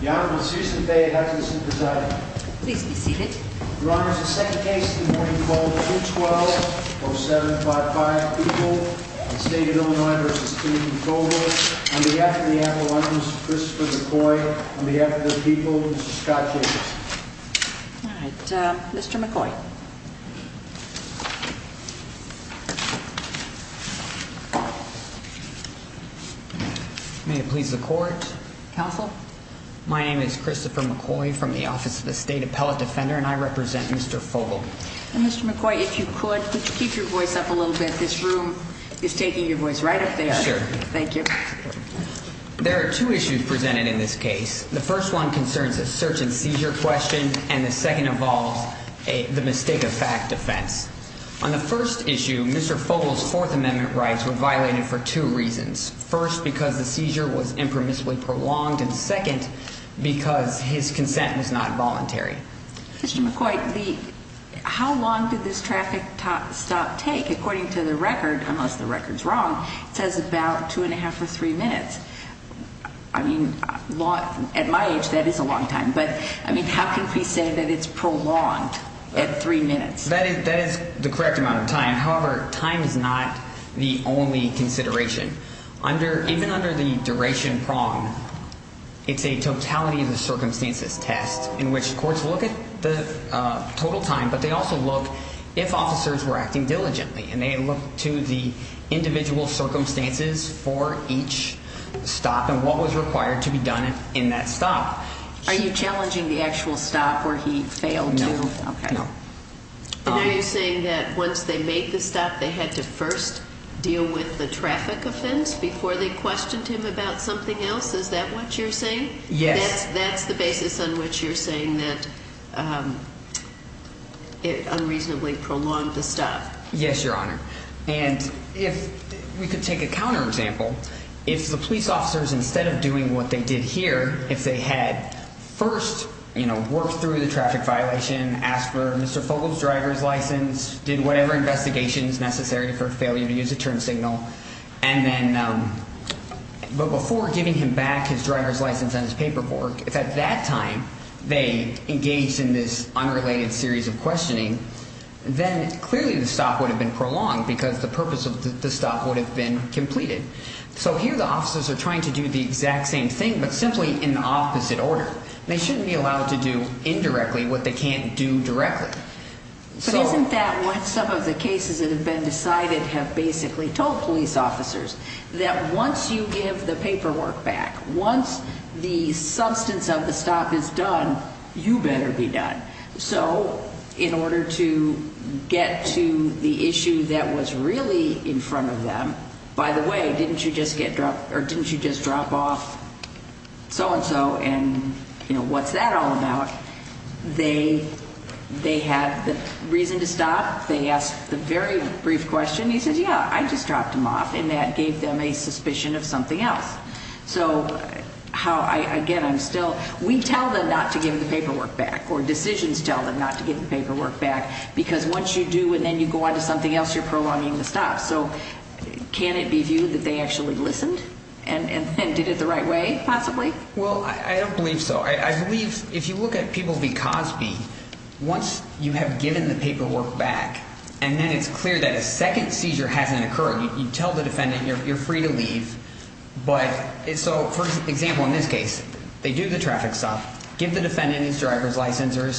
The Honorable Susan Baye has us in presiding. Please be seated. Your Honor, the second case of the morning called 2-12-0755, Fogel v. Fogel. On behalf of the appellant, Mr. Christopher McCoy. On behalf of the people, Mr. Scott Jacobs. All right, Mr. McCoy. May it please the Court, Counsel. My name is Christopher McCoy from the Office of the State Appellate Defender, and I represent Mr. Fogel. Mr. McCoy, if you could, could you keep your voice up a little bit? This room is taking your voice right up there. Sure. Thank you. There are two issues presented in this case. The first one concerns a search-and-seizure question, and the second involves the mistake-of-fact defense. On the first issue, Mr. Fogel's Fourth Amendment rights were violated for two reasons. First, because the seizure was impermissibly prolonged, and second, because his consent was not voluntary. Mr. McCoy, how long did this traffic stop take? According to the record, unless the record is wrong, it says about two and a half or three minutes. I mean, at my age, that is a long time. But, I mean, how can we say that it's prolonged at three minutes? That is the correct amount of time. However, time is not the only consideration. Even under the duration prong, it's a totality-of-circumstances test in which courts look at the total time, but they also look if officers were acting diligently, and they look to the individual circumstances for each stop and what was required to be done in that stop. Are you challenging the actual stop where he failed to? No. And are you saying that once they made the stop, they had to first deal with the traffic offense before they questioned him about something else? Is that what you're saying? Yes. That's the basis on which you're saying that it unreasonably prolonged the stop? Yes, Your Honor. And if we could take a counterexample, if the police officers, instead of doing what they did here, if they had first worked through the traffic violation, asked for Mr. Fogle's driver's license, did whatever investigations necessary for a failure to use a turn signal, and then before giving him back his driver's license and his paperwork, if at that time they engaged in this unrelated series of questioning, then clearly the stop would have been prolonged because the purpose of the stop would have been completed. So here the officers are trying to do the exact same thing, but simply in the opposite order. They shouldn't be allowed to do indirectly what they can't do directly. But isn't that what some of the cases that have been decided have basically told police officers, that once you give the paperwork back, once the substance of the stop is done, you better be done. So in order to get to the issue that was really in front of them, by the way, didn't you just get dropped, or didn't you just drop off so-and-so, and, you know, what's that all about? They had the reason to stop. They asked the very brief question. He says, yeah, I just dropped him off, and that gave them a suspicion of something else. So how, again, I'm still, we tell them not to give the paperwork back, or decisions tell them not to give the paperwork back, because once you do and then you go on to something else, you're prolonging the stop. So can it be viewed that they actually listened and did it the right way, possibly? Well, I don't believe so. I believe if you look at people v. Cosby, once you have given the paperwork back, and then it's clear that a second seizure hasn't occurred, you tell the defendant you're free to leave, but, so, for example, in this case, they do the traffic stop, give the defendant his driver's license or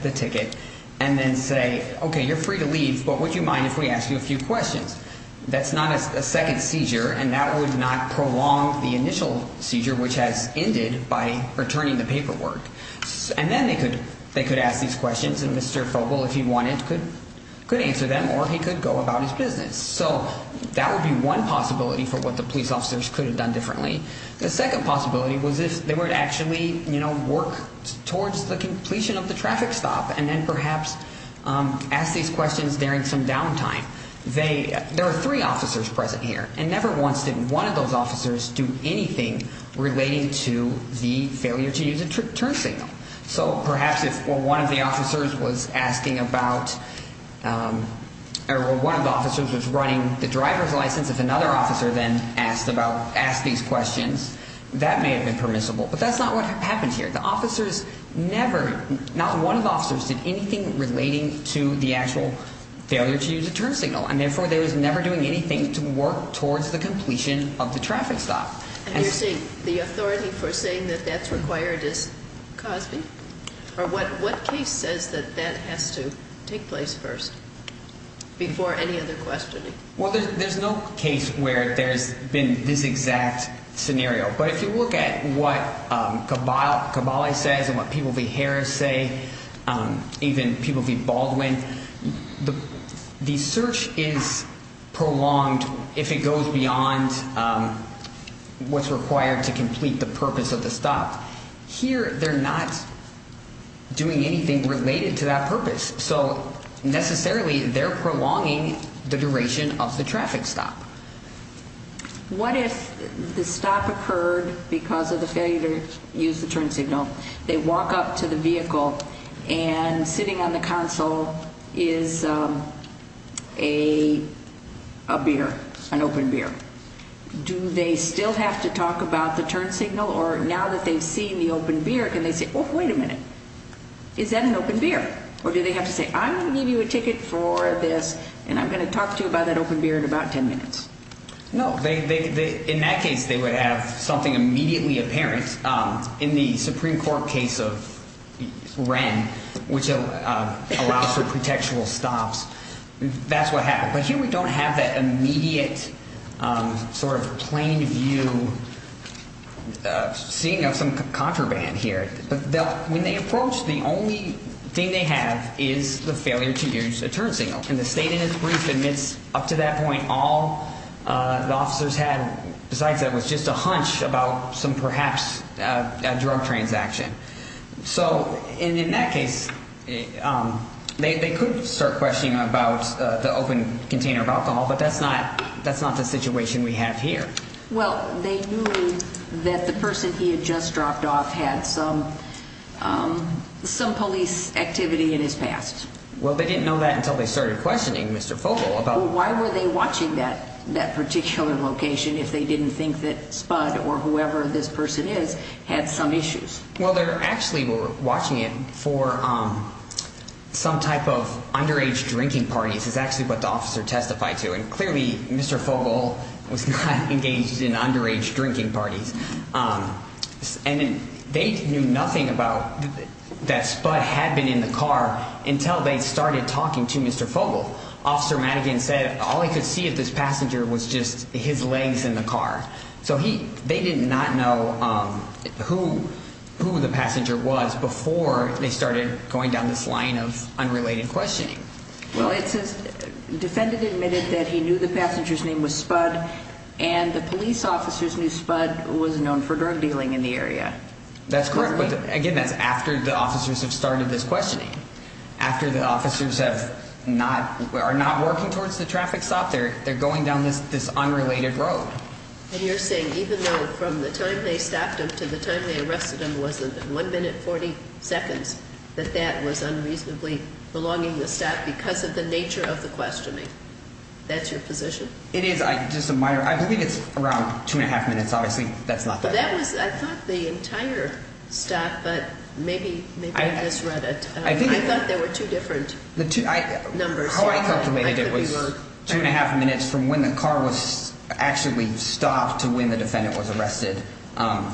the ticket, and then say, okay, you're free to leave, but would you mind if we asked you a few questions? That's not a second seizure, and that would not prolong the initial seizure, which has ended by returning the paperwork. And then they could ask these questions, and Mr. Fogle, if he wanted, could answer them, or he could go about his business. So that would be one possibility for what the police officers could have done differently. The second possibility was if they were to actually work towards the completion of the traffic stop and then perhaps ask these questions during some downtime. There are three officers present here, and never once did one of those officers do anything relating to the failure to use a turn signal. So perhaps if one of the officers was asking about, or one of the officers was running the driver's license, if another officer then asked these questions, that may have been permissible. But that's not what happens here. The officers never, not one of the officers did anything relating to the actual failure to use a turn signal, and therefore they were never doing anything to work towards the completion of the traffic stop. And you're saying the authority for saying that that's required is Cosby? Or what case says that that has to take place first before any other questioning? Well, there's no case where there's been this exact scenario. But if you look at what Cabaly says and what people v. Harris say, even people v. Baldwin, the search is prolonged if it goes beyond what's required to complete the purpose of the stop. Here they're not doing anything related to that purpose. So necessarily they're prolonging the duration of the traffic stop. What if the stop occurred because of the failure to use the turn signal? They walk up to the vehicle, and sitting on the console is a beer, an open beer. Do they still have to talk about the turn signal? Or now that they've seen the open beer, can they say, oh, wait a minute, is that an open beer? Or do they have to say, I'm going to give you a ticket for this, and I'm going to talk to you about that open beer in about ten minutes? No. In that case, they would have something immediately apparent. In the Supreme Court case of Wren, which allows for contextual stops, that's what happened. But here we don't have that immediate sort of plain view seeing of some contraband here. When they approach, the only thing they have is the failure to use a turn signal. And the state in its brief admits up to that point all the officers had, besides that, was just a hunch about some perhaps drug transaction. So in that case, they could start questioning about the open container of alcohol, but that's not the situation we have here. Well, they knew that the person he had just dropped off had some police activity in his past. Well, they didn't know that until they started questioning Mr. Fogle about it. Well, why were they watching that particular location if they didn't think that Spud or whoever this person is had some issues? Well, they actually were watching it for some type of underage drinking parties is actually what the officer testified to. And clearly Mr. Fogle was not engaged in underage drinking parties. And they knew nothing about that Spud had been in the car until they started talking to Mr. Fogle. Officer Madigan said all he could see of this passenger was just his legs in the car. So they did not know who the passenger was before they started going down this line of unrelated questioning. Well, it says defendant admitted that he knew the passenger's name was Spud and the police officers knew Spud was known for drug dealing in the area. That's correct, but again, that's after the officers have started this questioning. After the officers are not working towards the traffic stop, they're going down this unrelated road. And you're saying even though from the time they stopped him to the time they arrested him was 1 minute 40 seconds, that that was unreasonably prolonging the stop because of the nature of the questioning? That's your position? It is, just a minor. I believe it's around 2 1⁄2 minutes. Obviously, that's not that long. That was, I thought the entire stop, but maybe I misread it. I thought there were two different numbers. How I calculated it was 2 1⁄2 minutes from when the car was actually stopped to when the defendant was arrested.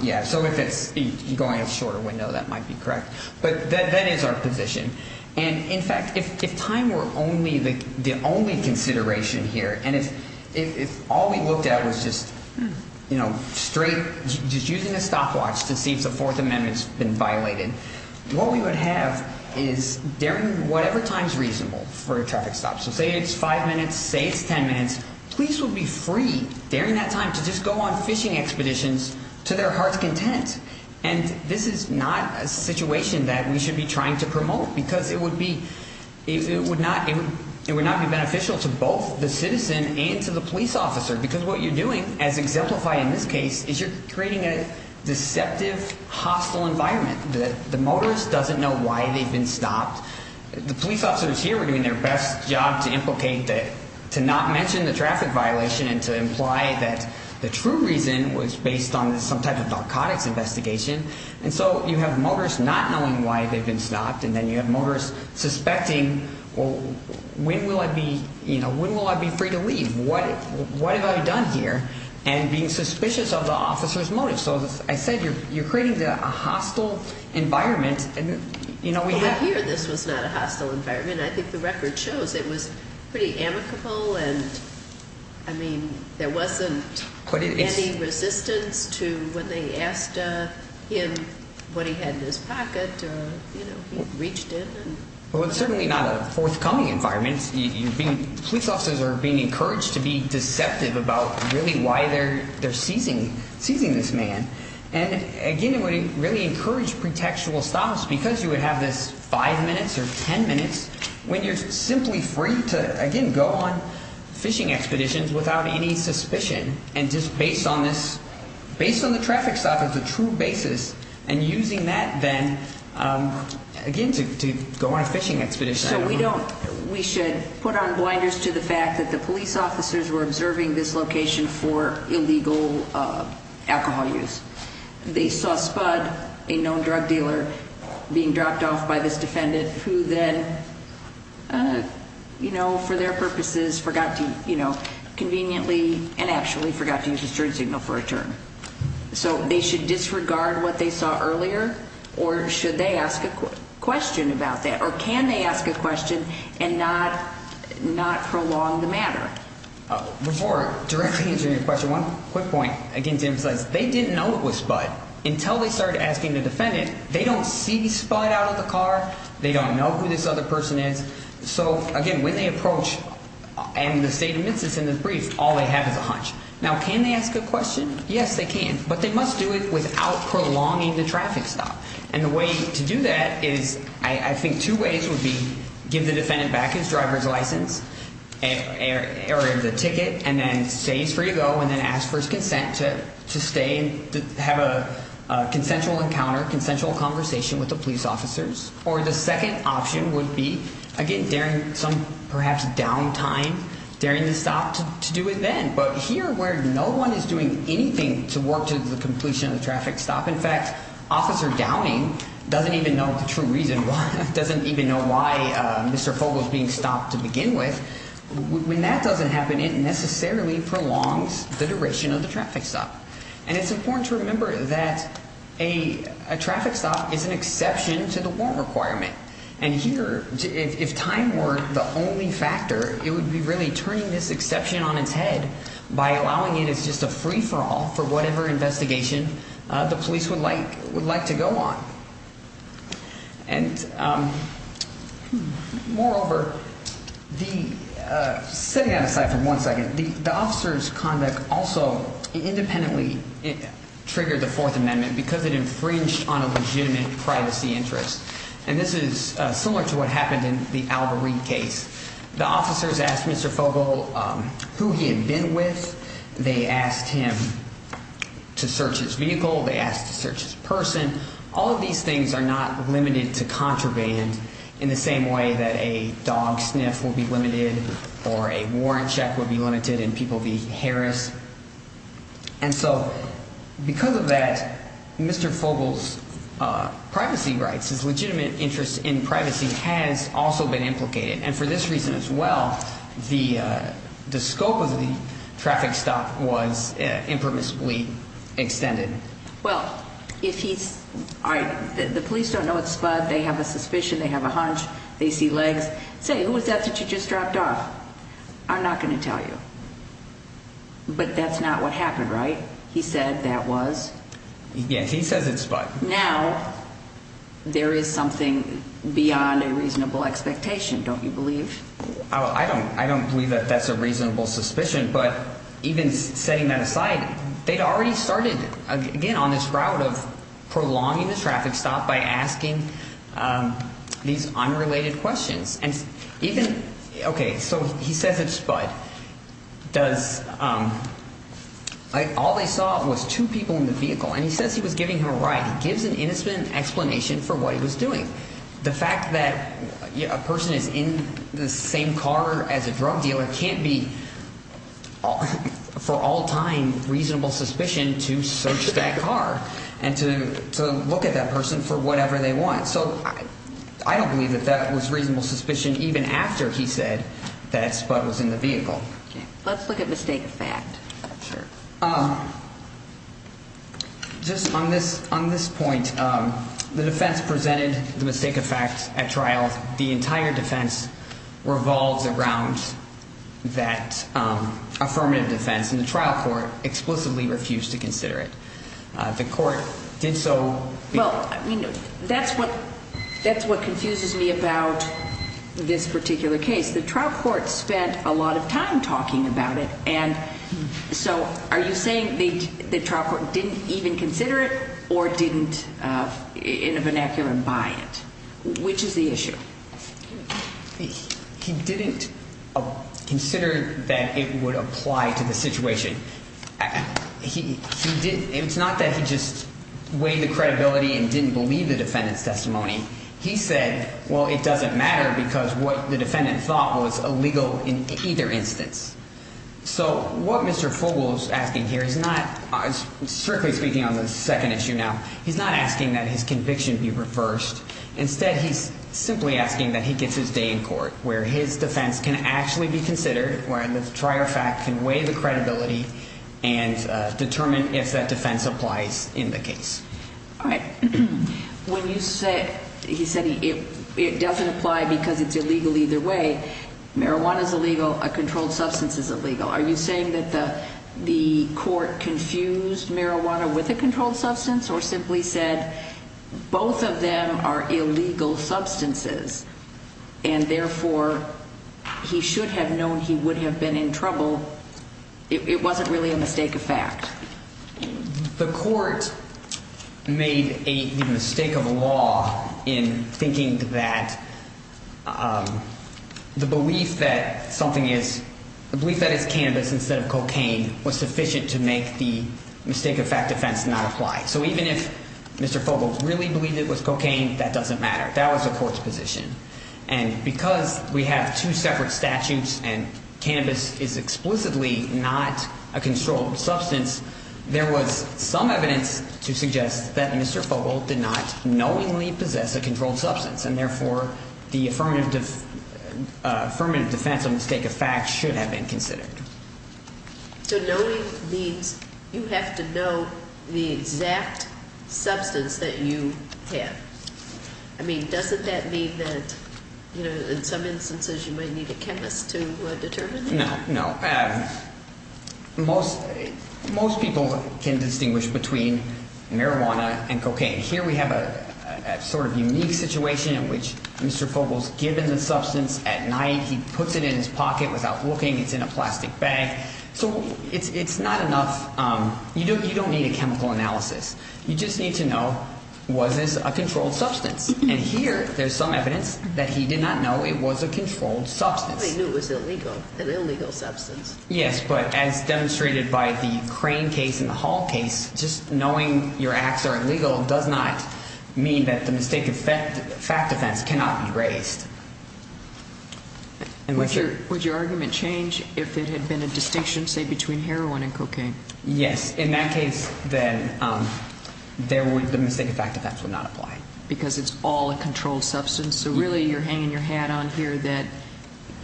Yeah, so if it's going a shorter window, that might be correct. But that is our position. And, in fact, if time were the only consideration here, and if all we looked at was just using a stopwatch to see if the Fourth Amendment's been violated, what we would have is during whatever time is reasonable for a traffic stop, so say it's 5 minutes, say it's 10 minutes, police would be free during that time to just go on fishing expeditions to their heart's content. And this is not a situation that we should be trying to promote because it would not be beneficial to both the citizen and to the police officer because what you're doing, as exemplified in this case, is you're creating a deceptive, hostile environment. The motorist doesn't know why they've been stopped. The police officers here were doing their best job to implicate, to not mention the traffic violation and to imply that the true reason was based on some type of narcotics investigation. And so you have motorists not knowing why they've been stopped, and then you have motorists suspecting, well, when will I be free to leave? What have I done here? And being suspicious of the officer's motive. So as I said, you're creating a hostile environment. Well, here this was not a hostile environment. I mean, I think the record shows it was pretty amicable, and, I mean, there wasn't any resistance to when they asked him what he had in his pocket, or, you know, he reached in. Well, it's certainly not a forthcoming environment. Police officers are being encouraged to be deceptive about really why they're seizing this man. And, again, it would really encourage pretextual stops because you would have this five minutes or ten minutes when you're simply free to, again, go on fishing expeditions without any suspicion and just based on this, based on the traffic stop as a true basis and using that then, again, to go on a fishing expedition. So we don't, we should put on blinders to the fact that the police officers were observing this location for illegal alcohol use. They saw Spud, a known drug dealer, being dropped off by this defendant who then, you know, for their purposes, forgot to, you know, conveniently and actually forgot to use his turn signal for a turn. So they should disregard what they saw earlier, or should they ask a question about that? Or can they ask a question and not prolong the matter? Before directly answering your question, one quick point. Again, to emphasize, they didn't know it was Spud. Until they started asking the defendant, they don't see Spud out of the car. They don't know who this other person is. So, again, when they approach and the statement is in the brief, all they have is a hunch. Now, can they ask a question? Yes, they can. But they must do it without prolonging the traffic stop. And the way to do that is I think two ways would be give the defendant back his driver's license or the ticket and then say he's free to go and then ask for his consent to stay and have a consensual encounter, consensual conversation with the police officers. Or the second option would be, again, during some perhaps down time, during the stop to do it then. But here where no one is doing anything to work to the completion of the traffic stop, in fact, Officer Downing doesn't even know the true reason why, doesn't even know why Mr. Fogle is being stopped to begin with. When that doesn't happen, it necessarily prolongs the duration of the traffic stop. And it's important to remember that a traffic stop is an exception to the warrant requirement. And here, if time weren't the only factor, it would be really turning this exception on its head by allowing it as just a free-for-all for whatever investigation the police would like to go on. And moreover, setting that aside for one second, the officer's conduct also independently triggered the Fourth Amendment because it infringed on a legitimate privacy interest. And this is similar to what happened in the Alvareen case. The officers asked Mr. Fogle who he had been with. They asked him to search his vehicle. They asked to search his person. All of these things are not limited to contraband in the same way that a dog sniff will be limited or a warrant check will be limited and people be harassed. And so because of that, Mr. Fogle's privacy rights, his legitimate interest in privacy, has also been implicated. And for this reason as well, the scope of the traffic stop was impermissibly extended. Well, the police don't know it's Spud. They have a suspicion. They have a hunch. They see legs. Say, who was that that you just dropped off? I'm not going to tell you. But that's not what happened, right? He said that was. Yes, he says it's Spud. Now there is something beyond a reasonable expectation, don't you believe? I don't believe that that's a reasonable suspicion. But even setting that aside, they'd already started, again, on this route of prolonging the traffic stop by asking these unrelated questions. And even, okay, so he says it's Spud. All they saw was two people in the vehicle. And he says he was giving him a ride. He gives an innocent explanation for what he was doing. The fact that a person is in the same car as a drug dealer can't be for all time reasonable suspicion to search that car and to look at that person for whatever they want. So I don't believe that that was reasonable suspicion even after he said that Spud was in the vehicle. Let's look at mistake of fact. Sure. Just on this point, the defense presented the mistake of fact at trial. The entire defense revolves around that affirmative defense. And the trial court explicitly refused to consider it. The court did so. Well, that's what confuses me about this particular case. The trial court spent a lot of time talking about it. And so are you saying the trial court didn't even consider it or didn't in a vernacular buy it? Which is the issue? He didn't consider that it would apply to the situation. It's not that he just weighed the credibility and didn't believe the defendant's testimony. He said, well, it doesn't matter because what the defendant thought was illegal in either instance. So what Mr. Fogle is asking here is not strictly speaking on the second issue now. He's not asking that his conviction be reversed. Instead, he's simply asking that he gets his day in court where his defense can actually be considered, where the trial fact can weigh the credibility and determine if that defense applies in the case. All right. He said it doesn't apply because it's illegal either way. Marijuana is illegal. A controlled substance is illegal. Are you saying that the court confused marijuana with a controlled substance or simply said both of them are illegal substances? And therefore, he should have known he would have been in trouble. It wasn't really a mistake of fact. The court made a mistake of law in thinking that the belief that something is, the belief that it's cannabis instead of cocaine was sufficient to make the mistake of fact defense not apply. So even if Mr. Fogle really believed it was cocaine, that doesn't matter. That was the court's position. And because we have two separate statutes and cannabis is explicitly not a controlled substance, there was some evidence to suggest that Mr. Fogle did not knowingly possess a controlled substance. And therefore, the affirmative defense of mistake of fact should have been considered. So knowing means you have to know the exact substance that you have. I mean, doesn't that mean that in some instances you might need a chemist to determine that? No, no. Most people can distinguish between marijuana and cocaine. Here we have a sort of unique situation in which Mr. Fogle is given the substance at night. He puts it in his pocket without looking. It's in a plastic bag. So it's not enough. You don't need a chemical analysis. You just need to know was this a controlled substance. And here there's some evidence that he did not know it was a controlled substance. He knew it was illegal, an illegal substance. Yes, but as demonstrated by the Crane case and the Hall case, just knowing your acts are illegal does not mean that the mistake of fact defense cannot be raised. Would your argument change if it had been a distinction, say, between heroin and cocaine? Yes. In that case, then, the mistake of fact defense would not apply. Because it's all a controlled substance? So really you're hanging your hat on here that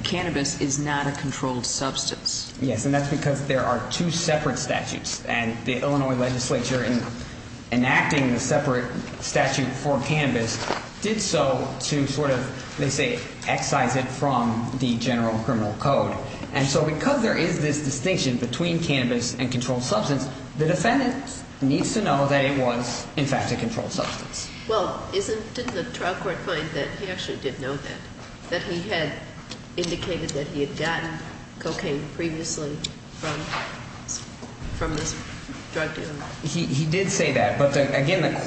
cannabis is not a controlled substance. Yes, and that's because there are two separate statutes. And the Illinois legislature, in enacting the separate statute for cannabis, did so to sort of, they say, excise it from the general criminal code. And so because there is this distinction between cannabis and controlled substance, the defendant needs to know that it was, in fact, a controlled substance. Well, didn't the trial court find that he actually did know that, that he had indicated that he had gotten cocaine previously from this drug dealer? He did say that. But again, the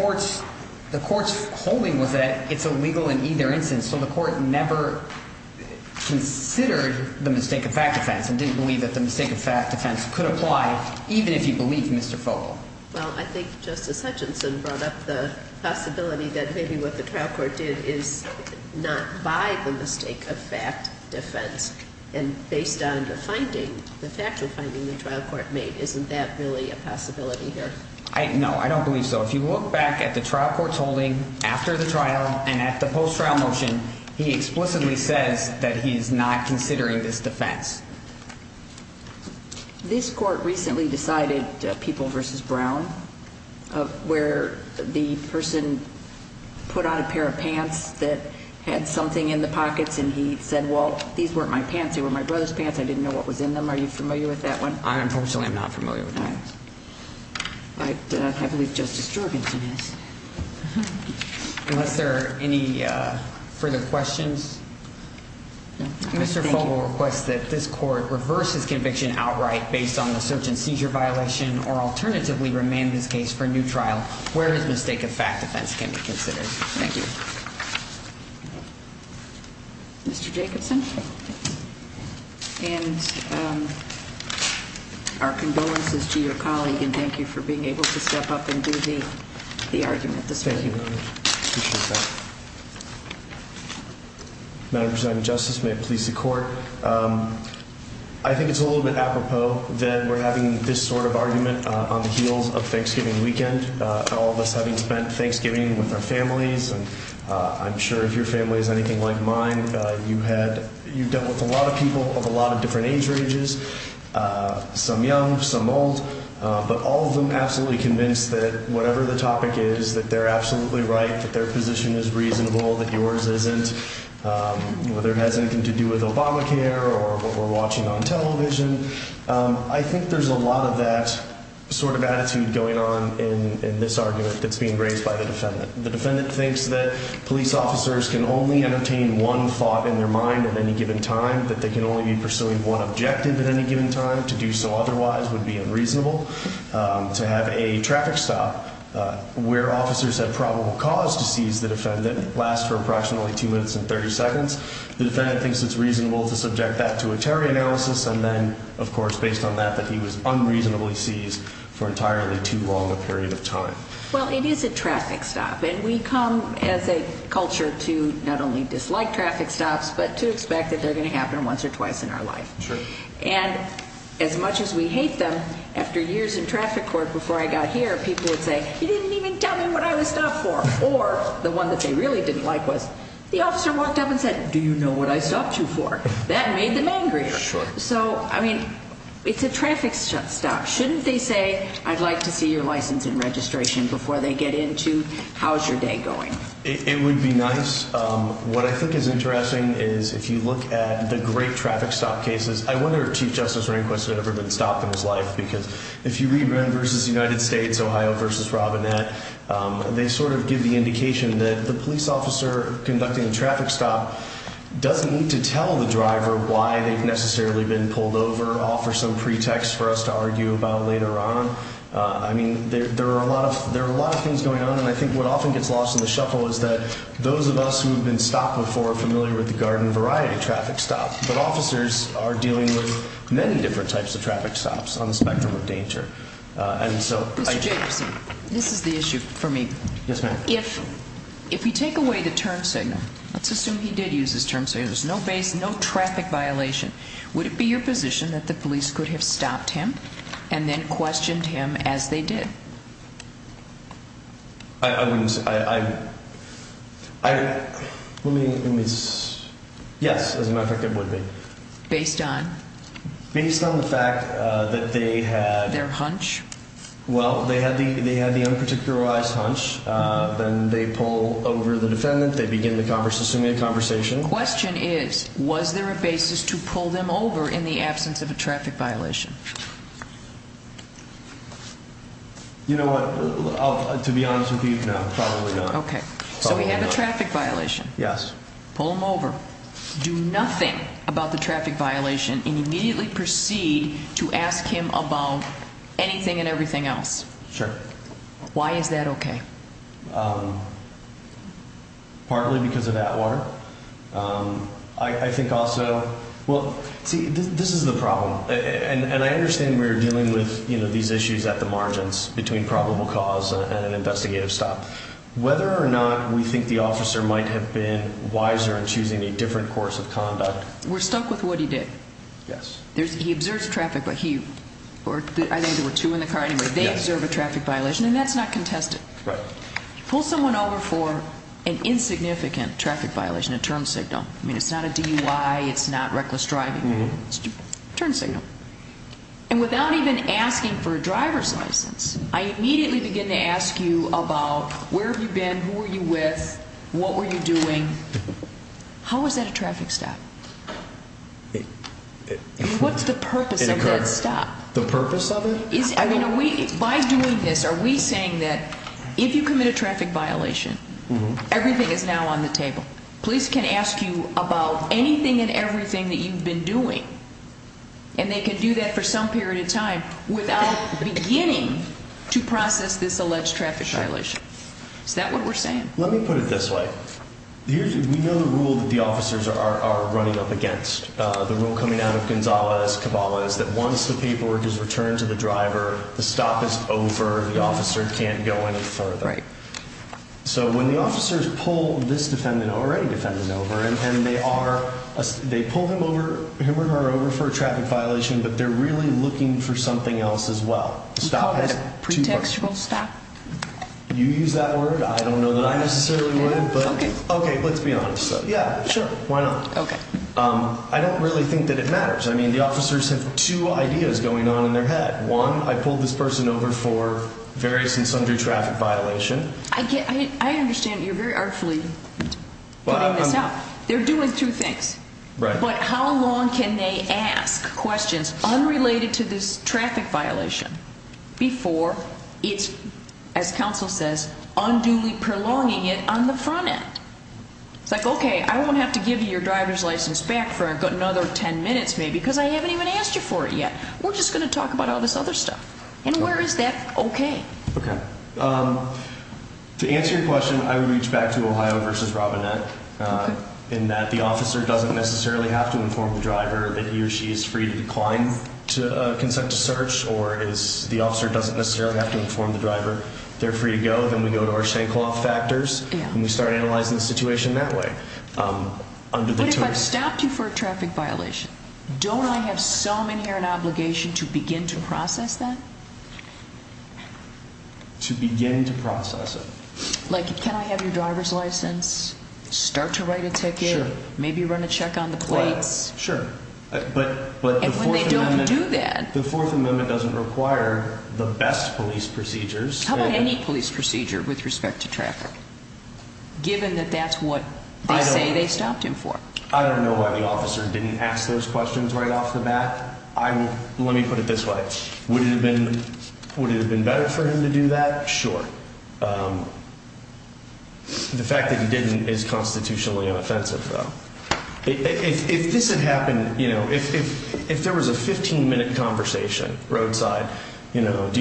court's holding was that it's illegal in either instance. So the court never considered the mistake of fact defense and didn't believe that the mistake of fact defense could apply, even if you believe Mr. Fogle. Well, I think Justice Hutchinson brought up the possibility that maybe what the trial court did is not by the mistake of fact defense. And based on the finding, the factual finding the trial court made, isn't that really a possibility here? No, I don't believe so. So if you look back at the trial court's holding after the trial and at the post-trial motion, he explicitly says that he is not considering this defense. This court recently decided, People v. Brown, where the person put on a pair of pants that had something in the pockets and he said, well, these weren't my pants. They were my brother's pants. I didn't know what was in them. Are you familiar with that one? I unfortunately am not familiar with that. I believe Justice Jorgensen is. Unless there are any further questions? No, thank you. Mr. Fogle requests that this court reverse his conviction outright based on the search and seizure violation or alternatively remand this case for a new trial where his mistake of fact defense can be considered. Thank you. Mr. Jacobson? And our condolences to your colleague and thank you for being able to step up and do the argument this way. Thank you very much. I appreciate that. Madam Presiding Justice, may it please the court, I think it's a little bit apropos that we're having this sort of argument on the heels of Thanksgiving weekend. All of us having spent Thanksgiving with our families, and I'm sure if your family is anything like mine, you've dealt with a lot of people of a lot of different age ranges, some young, some old. But all of them absolutely convinced that whatever the topic is, that they're absolutely right, that their position is reasonable, that yours isn't, whether it has anything to do with Obamacare or what we're watching on television. I think there's a lot of that sort of attitude going on in this argument that's being raised by the defendant. The defendant thinks that police officers can only entertain one thought in their mind at any given time, that they can only be pursuing one objective at any given time. To do so otherwise would be unreasonable. To have a traffic stop where officers have probable cause to seize the defendant lasts for approximately two minutes and 30 seconds. The defendant thinks it's reasonable to subject that to a terror analysis, and then, of course, based on that, that he was unreasonably seized for entirely too long a period of time. Well, it is a traffic stop, and we come as a culture to not only dislike traffic stops, but to expect that they're going to happen once or twice in our life. Sure. And as much as we hate them, after years in traffic court, before I got here, people would say, you didn't even tell me what I was stopped for. Or the one that they really didn't like was, the officer walked up and said, do you know what I stopped you for? That made them angry. Sure. So, I mean, it's a traffic stop. Shouldn't they say, I'd like to see your license and registration before they get into, how's your day going? It would be nice. What I think is interesting is, if you look at the great traffic stop cases, I wonder if Chief Justice Rehnquist had ever been stopped in his life. Because if you read Ren v. United States, Ohio v. Robinette, they sort of give the indication that the police officer conducting the traffic stop doesn't need to tell the driver why they've necessarily been pulled over, offer some pretext for us to argue about later on. I mean, there are a lot of things going on. And I think what often gets lost in the shuffle is that those of us who have been stopped before are familiar with the garden variety traffic stop. But officers are dealing with many different types of traffic stops on the spectrum of danger. Mr. Jacobson, this is the issue for me. Yes, ma'am. If you take away the turn signal, let's assume he did use his turn signal. There's no base, no traffic violation. Would it be your position that the police could have stopped him and then questioned him as they did? I wouldn't say. Let me see. Yes, as a matter of fact, it would be. Based on? Based on the fact that they had their hunch. Well, they had the unparticularized hunch. They begin the conversation, assuming a conversation. The question is, was there a basis to pull them over in the absence of a traffic violation? You know what? To be honest with you, no, probably not. Okay. So he had a traffic violation. Yes. Pull him over. Do nothing about the traffic violation and immediately proceed to ask him about anything and everything else. Sure. Why is that okay? Partly because of that water. I think also, well, see, this is the problem. And I understand we're dealing with, you know, these issues at the margins between probable cause and an investigative stop. Whether or not we think the officer might have been wiser in choosing a different course of conduct. We're stuck with what he did. Yes. He observed traffic, but he, or I think there were two in the car anyway. Yes. They observe a traffic violation, and that's not contested. Right. Pull someone over for an insignificant traffic violation, a turn signal. I mean, it's not a DUI. It's not reckless driving. It's a turn signal. And without even asking for a driver's license, I immediately begin to ask you about where have you been? Who were you with? What were you doing? How was that a traffic stop? What's the purpose of that stop? The purpose of it? By doing this, are we saying that if you commit a traffic violation, everything is now on the table? Police can ask you about anything and everything that you've been doing, and they can do that for some period of time without beginning to process this alleged traffic violation? Sure. Is that what we're saying? Let me put it this way. We know the rule that the officers are running up against. The rule coming out of Gonzales-Cabal is that once the paperwork is returned to the driver, the stop is over. The officer can't go any further. Right. So when the officers pull this defendant, or any defendant, over, and they pull him or her over for a traffic violation, but they're really looking for something else as well. The stop has two purposes. We call it a pretextual stop. You use that word. I don't know that I necessarily would. Okay, let's be honest. Yeah, sure. Why not? Okay. I don't really think that it matters. I mean, the officers have two ideas going on in their head. One, I pulled this person over for various and sundry traffic violation. I understand you're very artfully putting this out. They're doing two things. Right. But how long can they ask questions unrelated to this traffic violation before it's, as counsel says, unduly prolonging it on the front end? It's like, okay, I won't have to give you your driver's license back for another ten minutes maybe because I haven't even asked you for it yet. We're just going to talk about all this other stuff. And where is that okay? Okay. To answer your question, I would reach back to Ohio v. Robinette in that the officer doesn't necessarily have to inform the driver that he or she is free to decline to consent to search, or the officer doesn't necessarily have to inform the driver they're free to go. Then we go to our Shankloff factors and we start analyzing the situation that way. But if I've stopped you for a traffic violation, don't I have some inherent obligation to begin to process that? To begin to process it. Like, can I have your driver's license? Start to write a ticket. Maybe run a check on the plates. Sure. And when they don't do that. The Fourth Amendment doesn't require the best police procedures. How about any police procedure with respect to traffic, given that that's what they say they stopped him for? I don't know why the officer didn't ask those questions right off the bat. Let me put it this way. Would it have been better for him to do that? Sure. The fact that he didn't is constitutionally unoffensive, though. If this had happened, you know, if there was a 15-minute conversation roadside, you know, if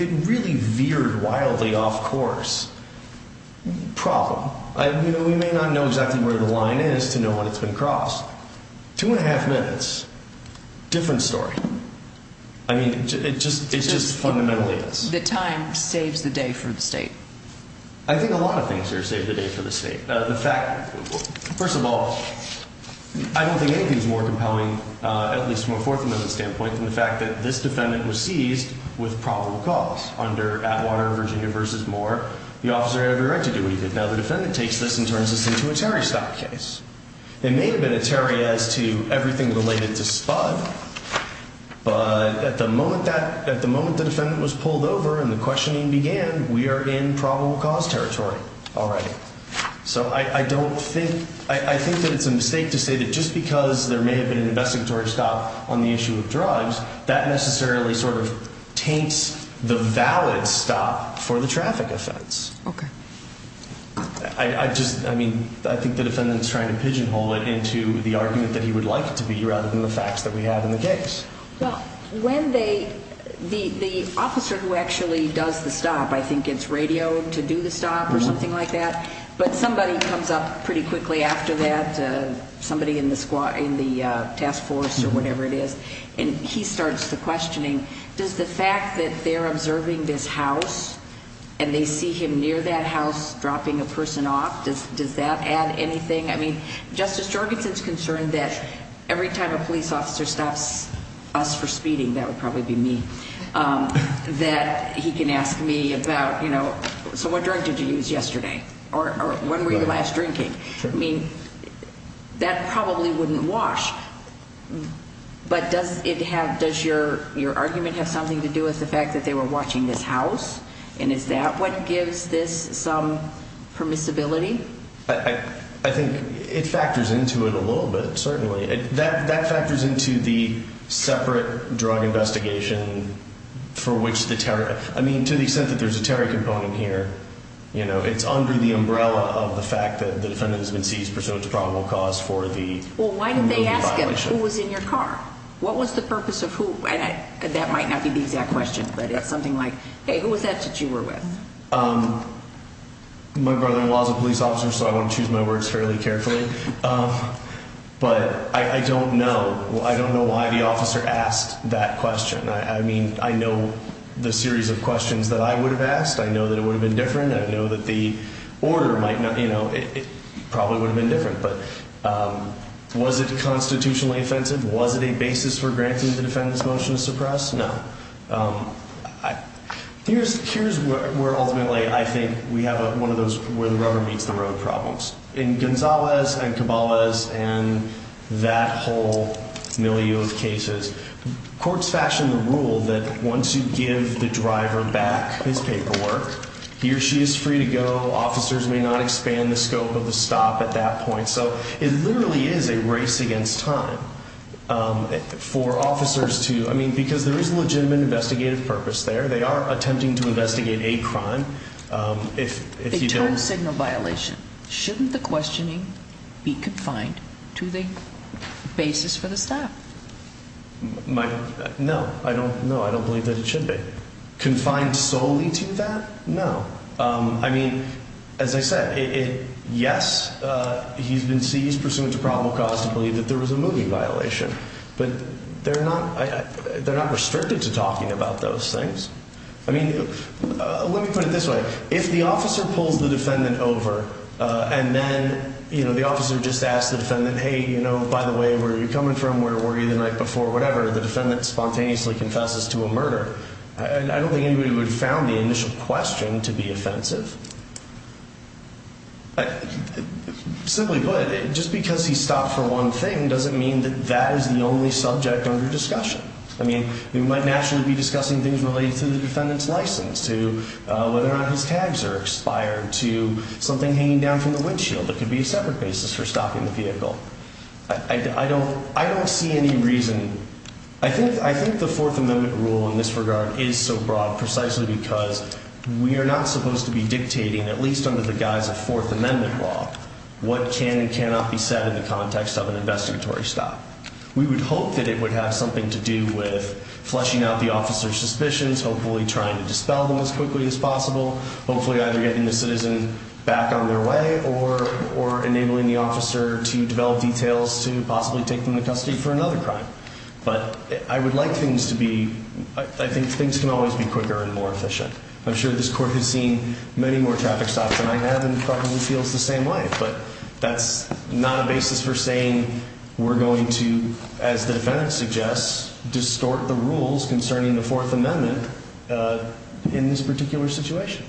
it really veered wildly off course, problem. We may not know exactly where the line is to know when it's been crossed. Two and a half minutes, different story. I mean, it just fundamentally is. The time saves the day for the state. I think a lot of things here save the day for the state. First of all, I don't think anything is more compelling, at least from a Fourth Amendment standpoint, than the fact that this defendant was seized with probable cause. Under Atwater, Virginia v. Moore, the officer had every right to do what he did. Now the defendant takes this and turns this into a Terry-style case. It may have been a Terry as to everything related to Spud, but at the moment the defendant was pulled over and the questioning began, we are in probable cause territory. All right. So I don't think, I think that it's a mistake to say that just because there may have been an investigatory stop on the issue of drugs, that necessarily sort of taints the valid stop for the traffic offense. Okay. I just, I mean, I think the defendant's trying to pigeonhole it into the argument that he would like it to be rather than the facts that we have in the case. Well, when they, the officer who actually does the stop, I think it's radio to do the stop or something like that, but somebody comes up pretty quickly after that, somebody in the task force or whatever it is, and he starts the questioning, does the fact that they're observing this house and they see him near that house dropping a person off, does that add anything? I mean, Justice Jorgensen's concerned that every time a police officer stops us for speeding, that would probably be me, that he can ask me about, you know, so what drug did you use yesterday? Or when were you last drinking? I mean, that probably wouldn't wash. But does it have, does your argument have something to do with the fact that they were watching this house? And is that what gives this some permissibility? I think it factors into it a little bit, certainly. That factors into the separate drug investigation for which the terror, I mean, to the extent that there's a terror component here, you know, it's under the umbrella of the fact that the defendant has been seized pursuant to probable cause for the murder violation. Well, why didn't they ask him who was in your car? What was the purpose of who? And that might not be the exact question, but it's something like, hey, who was that that you were with? My brother-in-law is a police officer, so I want to choose my words fairly carefully. But I don't know. I don't know why the officer asked that question. I mean, I know the series of questions that I would have asked. I know that it would have been different. I know that the order might not, you know, it probably would have been different. But was it constitutionally offensive? Was it a basis for granting the defendant's motion to suppress? No. Here's where ultimately I think we have one of those where the rubber meets the road problems. In Gonzalez and Cabalas and that whole milieu of cases, courts fashion the rule that once you give the driver back his paperwork, he or she is free to go. Officers may not expand the scope of the stop at that point. So it literally is a race against time for officers to, I mean, because there is a legitimate investigative purpose there. They are attempting to investigate a crime. A turn signal violation. Shouldn't the questioning be confined to the basis for the stop? No. No, I don't believe that it should be. Confined solely to that? No. I mean, as I said, yes, he's been seized pursuant to probable cause to believe that there was a moving violation. But they're not restricted to talking about those things. I mean, let me put it this way. If the officer pulls the defendant over and then, you know, the officer just asks the defendant, hey, you know, by the way, where are you coming from? Where were you the night before? Whatever. The defendant spontaneously confesses to a murder. I don't think anybody would have found the initial question to be offensive. Simply put, just because he stopped for one thing doesn't mean that that is the only subject under discussion. I mean, we might naturally be discussing things related to the defendant's license, to whether or not his tags are expired, to something hanging down from the windshield that could be a separate basis for stopping the vehicle. I don't see any reason. I think the Fourth Amendment rule in this regard is so broad precisely because we are not supposed to be dictating, at least under the guise of Fourth Amendment law, what can and cannot be said in the context of an investigatory stop. We would hope that it would have something to do with fleshing out the officer's suspicions, hopefully trying to dispel them as quickly as possible, hopefully either getting the citizen back on their way or enabling the officer to develop details to possibly take them into custody for another crime. But I would like things to be, I think things can always be quicker and more efficient. I'm sure this Court has seen many more traffic stops than I have and probably feels the same way. But that's not a basis for saying we're going to, as the defendant suggests, distort the rules concerning the Fourth Amendment in this particular situation.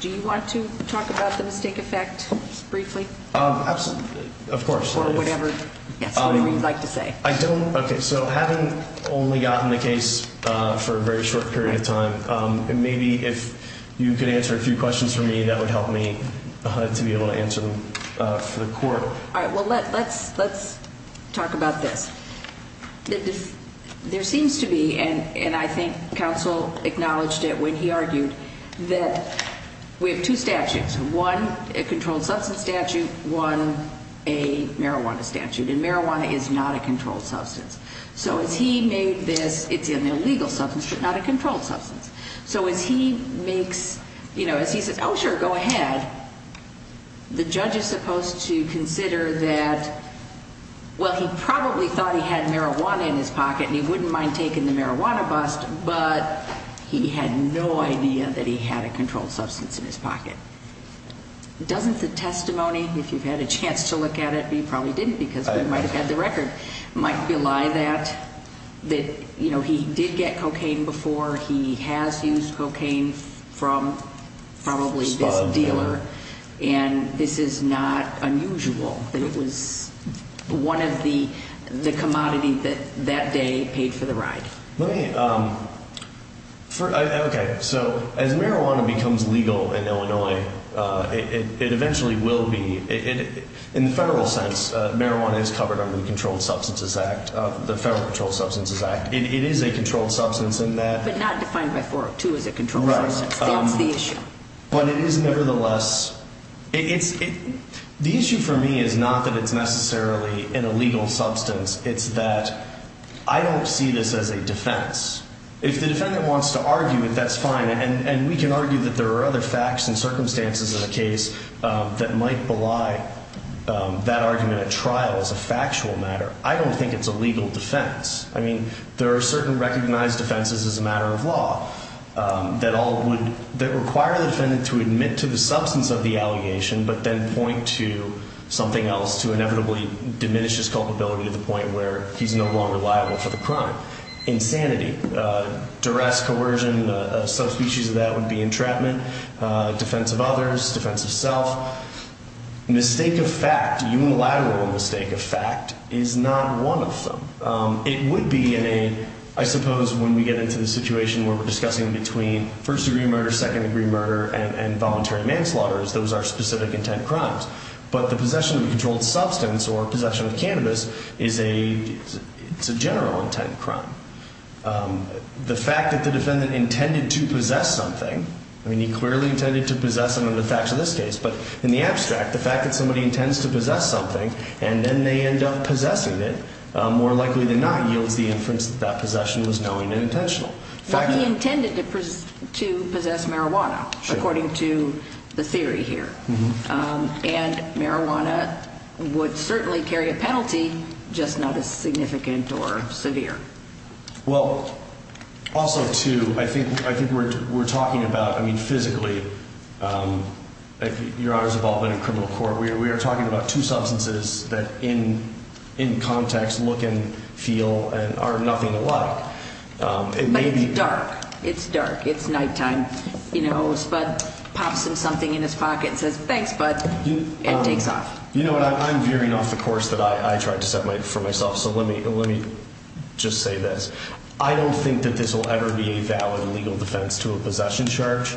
Do you want to talk about the mistake effect briefly? Absolutely. Of course. Or whatever you'd like to say. Okay, so having only gotten the case for a very short period of time, maybe if you could answer a few questions for me, that would help me to be able to answer them for the Court. All right, well, let's talk about this. There seems to be, and I think counsel acknowledged it when he argued, that we have two statutes. One, a controlled substance statute. One, a marijuana statute. And marijuana is not a controlled substance. So as he made this, it's an illegal substance, but not a controlled substance. So as he makes, you know, as he says, oh sure, go ahead, the judge is supposed to consider that, well, he probably thought he had marijuana in his pocket and he wouldn't mind taking the marijuana bust, but he had no idea that he had a controlled substance in his pocket. Doesn't the testimony, if you've had a chance to look at it, but you probably didn't because we might have had the record, might belie that he did get cocaine before, he has used cocaine from probably this dealer, and this is not unusual, that it was one of the commodities that that day paid for the ride. Let me, okay, so as marijuana becomes legal in Illinois, it eventually will be. In the federal sense, marijuana is covered under the Controlled Substances Act, the Federal Controlled Substances Act. It is a controlled substance in that. But not defined by 402 as a controlled substance. Right. That's the issue. But it is nevertheless, it's, the issue for me is not that it's necessarily an illegal substance. It's that I don't see this as a defense. If the defendant wants to argue it, that's fine, and we can argue that there are other facts and circumstances in the case that might belie that argument at trial as a factual matter. I don't think it's a legal defense. I mean, there are certain recognized defenses as a matter of law that all would, that require the defendant to admit to the substance of the allegation, but then point to something else to inevitably diminish his culpability to the point where he's no longer liable for the crime. Insanity, duress, coercion, a subspecies of that would be entrapment, defense of others, defense of self. Mistake of fact, unilateral mistake of fact is not one of them. It would be in a, I suppose when we get into the situation where we're discussing between first degree murder, second degree murder, and voluntary manslaughter is those are specific intent crimes. But the possession of a controlled substance or possession of cannabis is a, it's a general intent crime. The fact that the defendant intended to possess something, I mean he clearly intended to possess under the facts of this case, but in the abstract, the fact that somebody intends to possess something and then they end up possessing it, more likely than not yields the inference that that possession was knowing and intentional. But he intended to possess marijuana, according to the theory here. And marijuana would certainly carry a penalty, just not as significant or severe. Well, also too, I think we're talking about, I mean physically, your Honor's involvement in criminal court, we are talking about two substances that in context look and feel and are nothing alike. But it's dark. It's dark. It's nighttime. You know, Spud pops him something in his pocket and says, thanks Spud, and takes off. You know what, I'm veering off the course that I tried to set for myself, so let me just say this. I don't think that this will ever be a valid legal defense to a possession charge.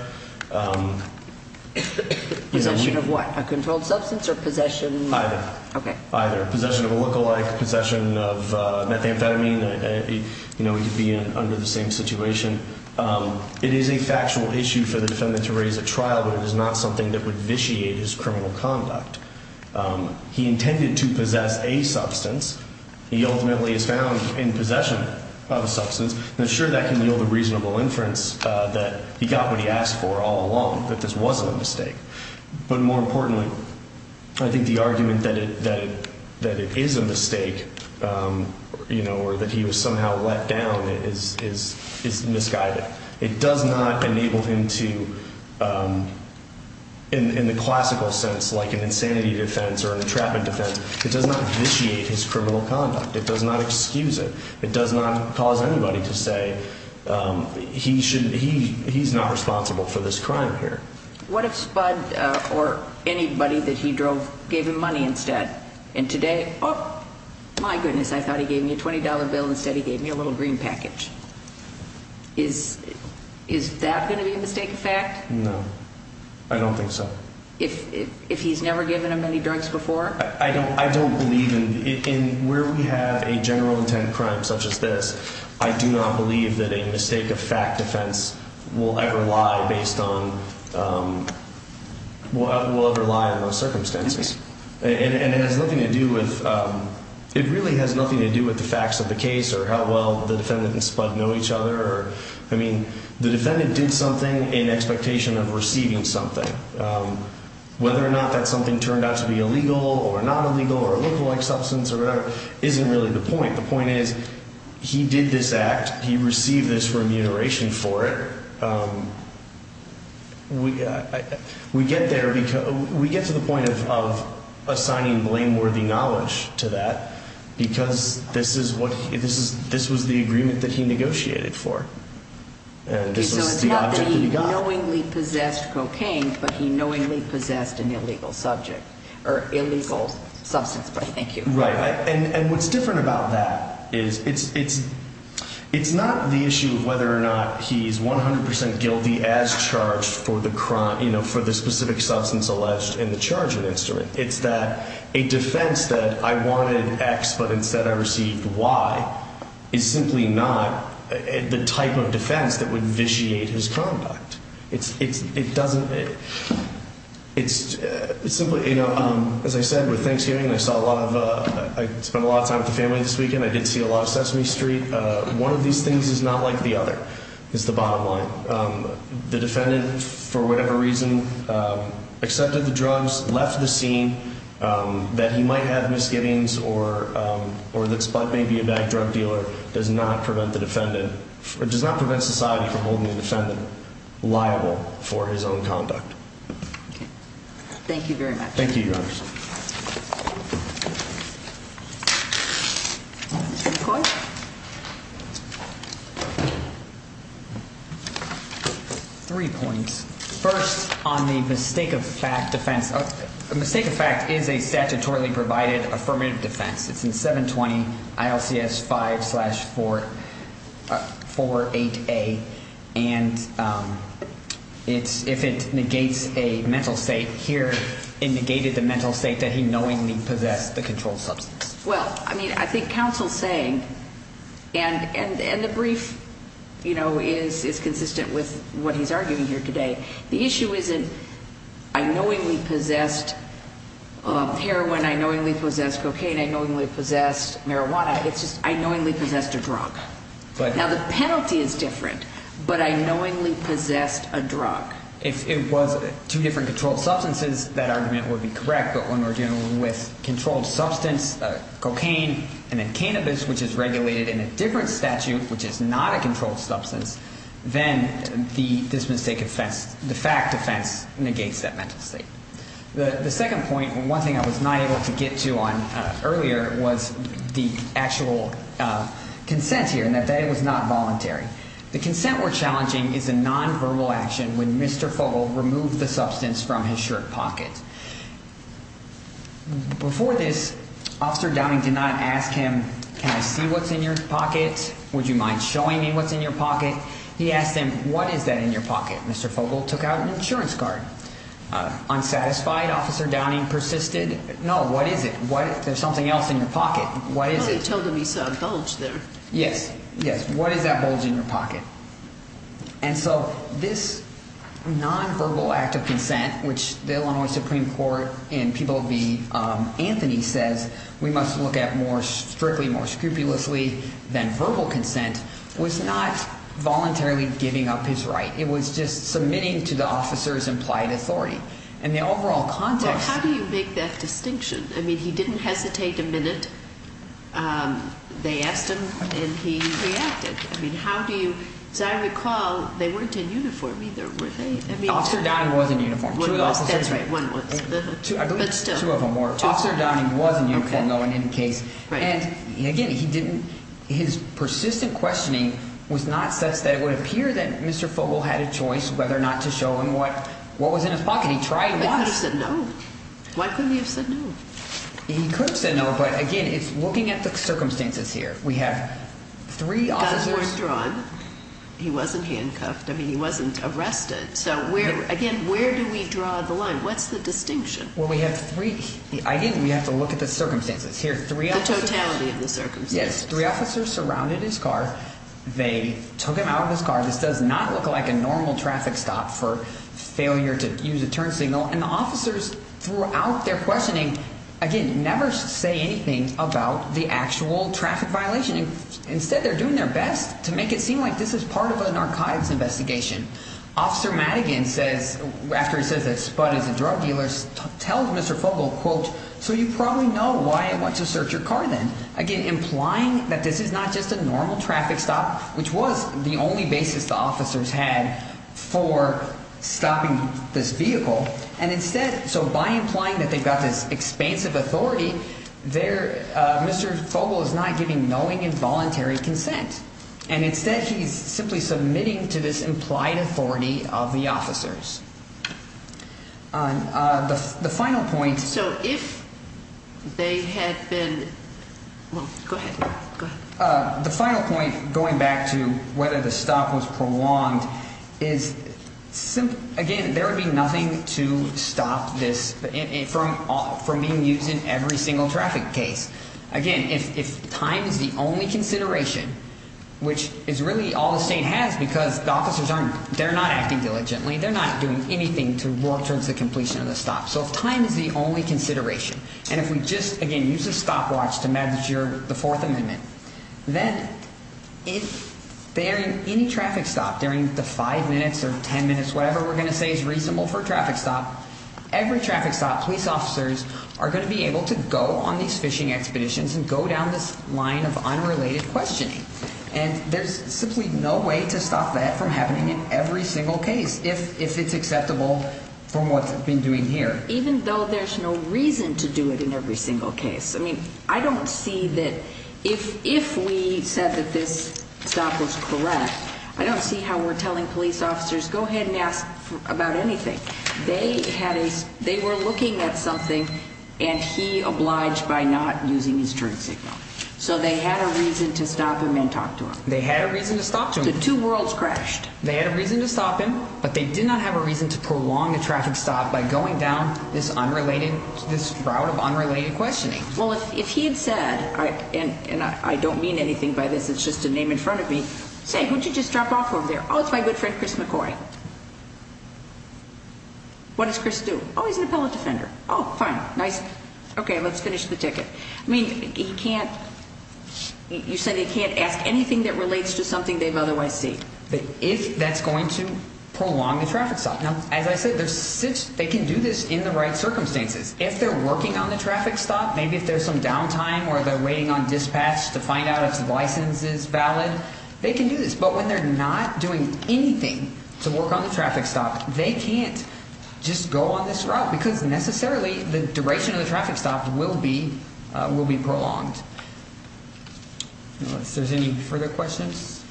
Possession of what? A controlled substance or possession? Either. Either. Possession of a lookalike, possession of methamphetamine. You know, we could be under the same situation. It is a factual issue for the defendant to raise at trial, but it is not something that would vitiate his criminal conduct. He intended to possess a substance. He ultimately is found in possession of a substance, and I'm sure that can yield a reasonable inference that he got what he asked for all along, that this wasn't a mistake. But more importantly, I think the argument that it is a mistake, you know, or that he was somehow let down is misguided. It does not enable him to, in the classical sense, like an insanity defense or an entrapment defense, it does not vitiate his criminal conduct. It does not excuse it. It does not cause anybody to say he's not responsible for this crime here. What if Spud or anybody that he drove gave him money instead? And today, oh, my goodness, I thought he gave me a $20 bill. Instead he gave me a little green package. Is that going to be a mistake of fact? No. I don't think so. If he's never given him any drugs before? I don't believe in it. Where we have a general intent crime such as this, I do not believe that a mistake of fact defense will ever lie based on – will ever lie in those circumstances. And it has nothing to do with – it really has nothing to do with the facts of the case or how well the defendant and Spud know each other. I mean, the defendant did something in expectation of receiving something. Whether or not that something turned out to be illegal or not illegal or a lookalike substance or whatever isn't really the point. The point is he did this act. He received this remuneration for it. We get there because – we get to the point of assigning blameworthy knowledge to that because this is what – this was the agreement that he negotiated for. And this was the object that he got. Okay, so it's not that he knowingly possessed cocaine, but he knowingly possessed an illegal subject – or illegal substance, but thank you. Right. And what's different about that is it's not the issue of whether or not he's 100 percent guilty as charged for the crime – for the specific substance alleged in the chargement instrument. It's that a defense that I wanted X but instead I received Y is simply not the type of defense that would vitiate his conduct. It doesn't – it's simply – as I said, with Thanksgiving, I saw a lot of – I spent a lot of time with the family this weekend. I did see a lot of Sesame Street. One of these things is not like the other is the bottom line. The defendant, for whatever reason, accepted the drugs, left the scene, that he might have misgivings or that Spud may be a bad drug dealer does not prevent the defendant – or does not prevent society from holding the defendant liable for his own conduct. Thank you very much. Thank you, Your Honor. Thank you. Three points. First, on the mistake-of-fact defense – a mistake-of-fact is a statutorily provided affirmative defense. It's in 720 ILCS 5-48A, and it's – if it negates a mental state, here it negated the mental state that he knowingly possessed the controlled substance. Well, I mean, I think counsel's saying – and the brief is consistent with what he's arguing here today. The issue isn't I knowingly possessed heroin, I knowingly possessed cocaine, I knowingly possessed marijuana. It's just I knowingly possessed a drug. Now, the penalty is different, but I knowingly possessed a drug. If it was two different controlled substances, that argument would be correct. But when we're dealing with controlled substance, cocaine, and then cannabis, which is regulated in a different statute, which is not a controlled substance, then this mistake-of-fact defense negates that mental state. The second point, one thing I was not able to get to on earlier, was the actual consent here, and that it was not voluntary. The consent we're challenging is a nonverbal action when Mr. Fogle removed the substance from his shirt pocket. Before this, Officer Downing did not ask him, can I see what's in your pocket? Would you mind showing me what's in your pocket? He asked him, what is that in your pocket? Mr. Fogle took out an insurance card. Unsatisfied, Officer Downing persisted. No, what is it? There's something else in your pocket. What is it? Well, he told him he saw a bulge there. Yes, yes. What is that bulge in your pocket? And so this nonverbal act of consent, which the Illinois Supreme Court and people of the Anthony says we must look at more strictly, more scrupulously than verbal consent, was not voluntarily giving up his right. It was just submitting to the officer's implied authority. And the overall context- Well, how do you make that distinction? I mean, he didn't hesitate a minute. They asked him and he reacted. I mean, how do you- As I recall, they weren't in uniform either, were they? Officer Downing was in uniform. That's right, one was. I believe two of them were. Officer Downing was in uniform, though, in any case. And, again, he didn't- His persistent questioning was not such that it would appear that Mr. Fogle had a choice whether or not to show him what was in his pocket. He tried once. But he could have said no. Why couldn't he have said no? He could have said no, but, again, it's looking at the circumstances here. We have three officers- Guns weren't drawn. He wasn't handcuffed. I mean, he wasn't arrested. So, again, where do we draw the line? What's the distinction? Well, we have three- I didn't- We have to look at the circumstances. Here, three officers- The totality of the circumstances. Yes, three officers surrounded his car. They took him out of his car. This does not look like a normal traffic stop for failure to use a turn signal. And the officers throughout their questioning, again, never say anything about the actual traffic violation. Instead, they're doing their best to make it seem like this is part of an archivist's investigation. Officer Madigan says- After he says that Spud is a drug dealer, tells Mr. Fogle, quote, So you probably know why I went to search your car then. Again, implying that this is not just a normal traffic stop, which was the only basis the officers had for stopping this vehicle. And instead- So by implying that they've got this expansive authority, Mr. Fogle is not giving knowing and voluntary consent. And instead, he's simply submitting to this implied authority of the officers. The final point- So if they had been- Go ahead. The final point, going back to whether the stop was prolonged, is simply- Again, there would be nothing to stop this from being used in every single traffic case. Again, if time is the only consideration, which is really all the state has because the officers aren't- They're not acting diligently. They're not doing anything to work towards the completion of the stop. So if time is the only consideration, and if we just, again, use a stopwatch to measure the Fourth Amendment, then if during any traffic stop, during the five minutes or ten minutes, whatever we're going to say is reasonable for a traffic stop, every traffic stop, police officers are going to be able to go on these fishing expeditions and go down this line of unrelated questioning. And there's simply no way to stop that from happening in every single case, if it's acceptable from what's been doing here. Even though there's no reason to do it in every single case. I mean, I don't see that- If we said that this stop was correct, I don't see how we're telling police officers, go ahead and ask about anything. They were looking at something, and he obliged by not using his turn signal. So they had a reason to stop him and talk to him. They had a reason to stop him. So two worlds crashed. They had a reason to stop him, but they did not have a reason to prolong the traffic stop by going down this route of unrelated questioning. Well, if he had said, and I don't mean anything by this, it's just a name in front of me, say, who'd you just drop off over there? Oh, it's my good friend Chris McCoy. What does Chris do? Oh, he's an appellate defender. Oh, fine, nice. Okay, let's finish the ticket. I mean, he can't-you said he can't ask anything that relates to something they've otherwise seen. But if that's going to prolong the traffic stop, now, as I said, they can do this in the right circumstances. If they're working on the traffic stop, maybe if there's some downtime or they're waiting on dispatch to find out if the license is valid, they can do this. But when they're not doing anything to work on the traffic stop, they can't just go on this route because necessarily the duration of the traffic stop will be prolonged. Unless there's any further questions.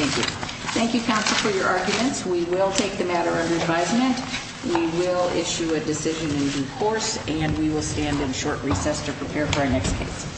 Thank you. Thank you, counsel, for your arguments. We will take the matter under advisement. We will issue a decision in due course, and we will stand in short recess to prepare for our next case.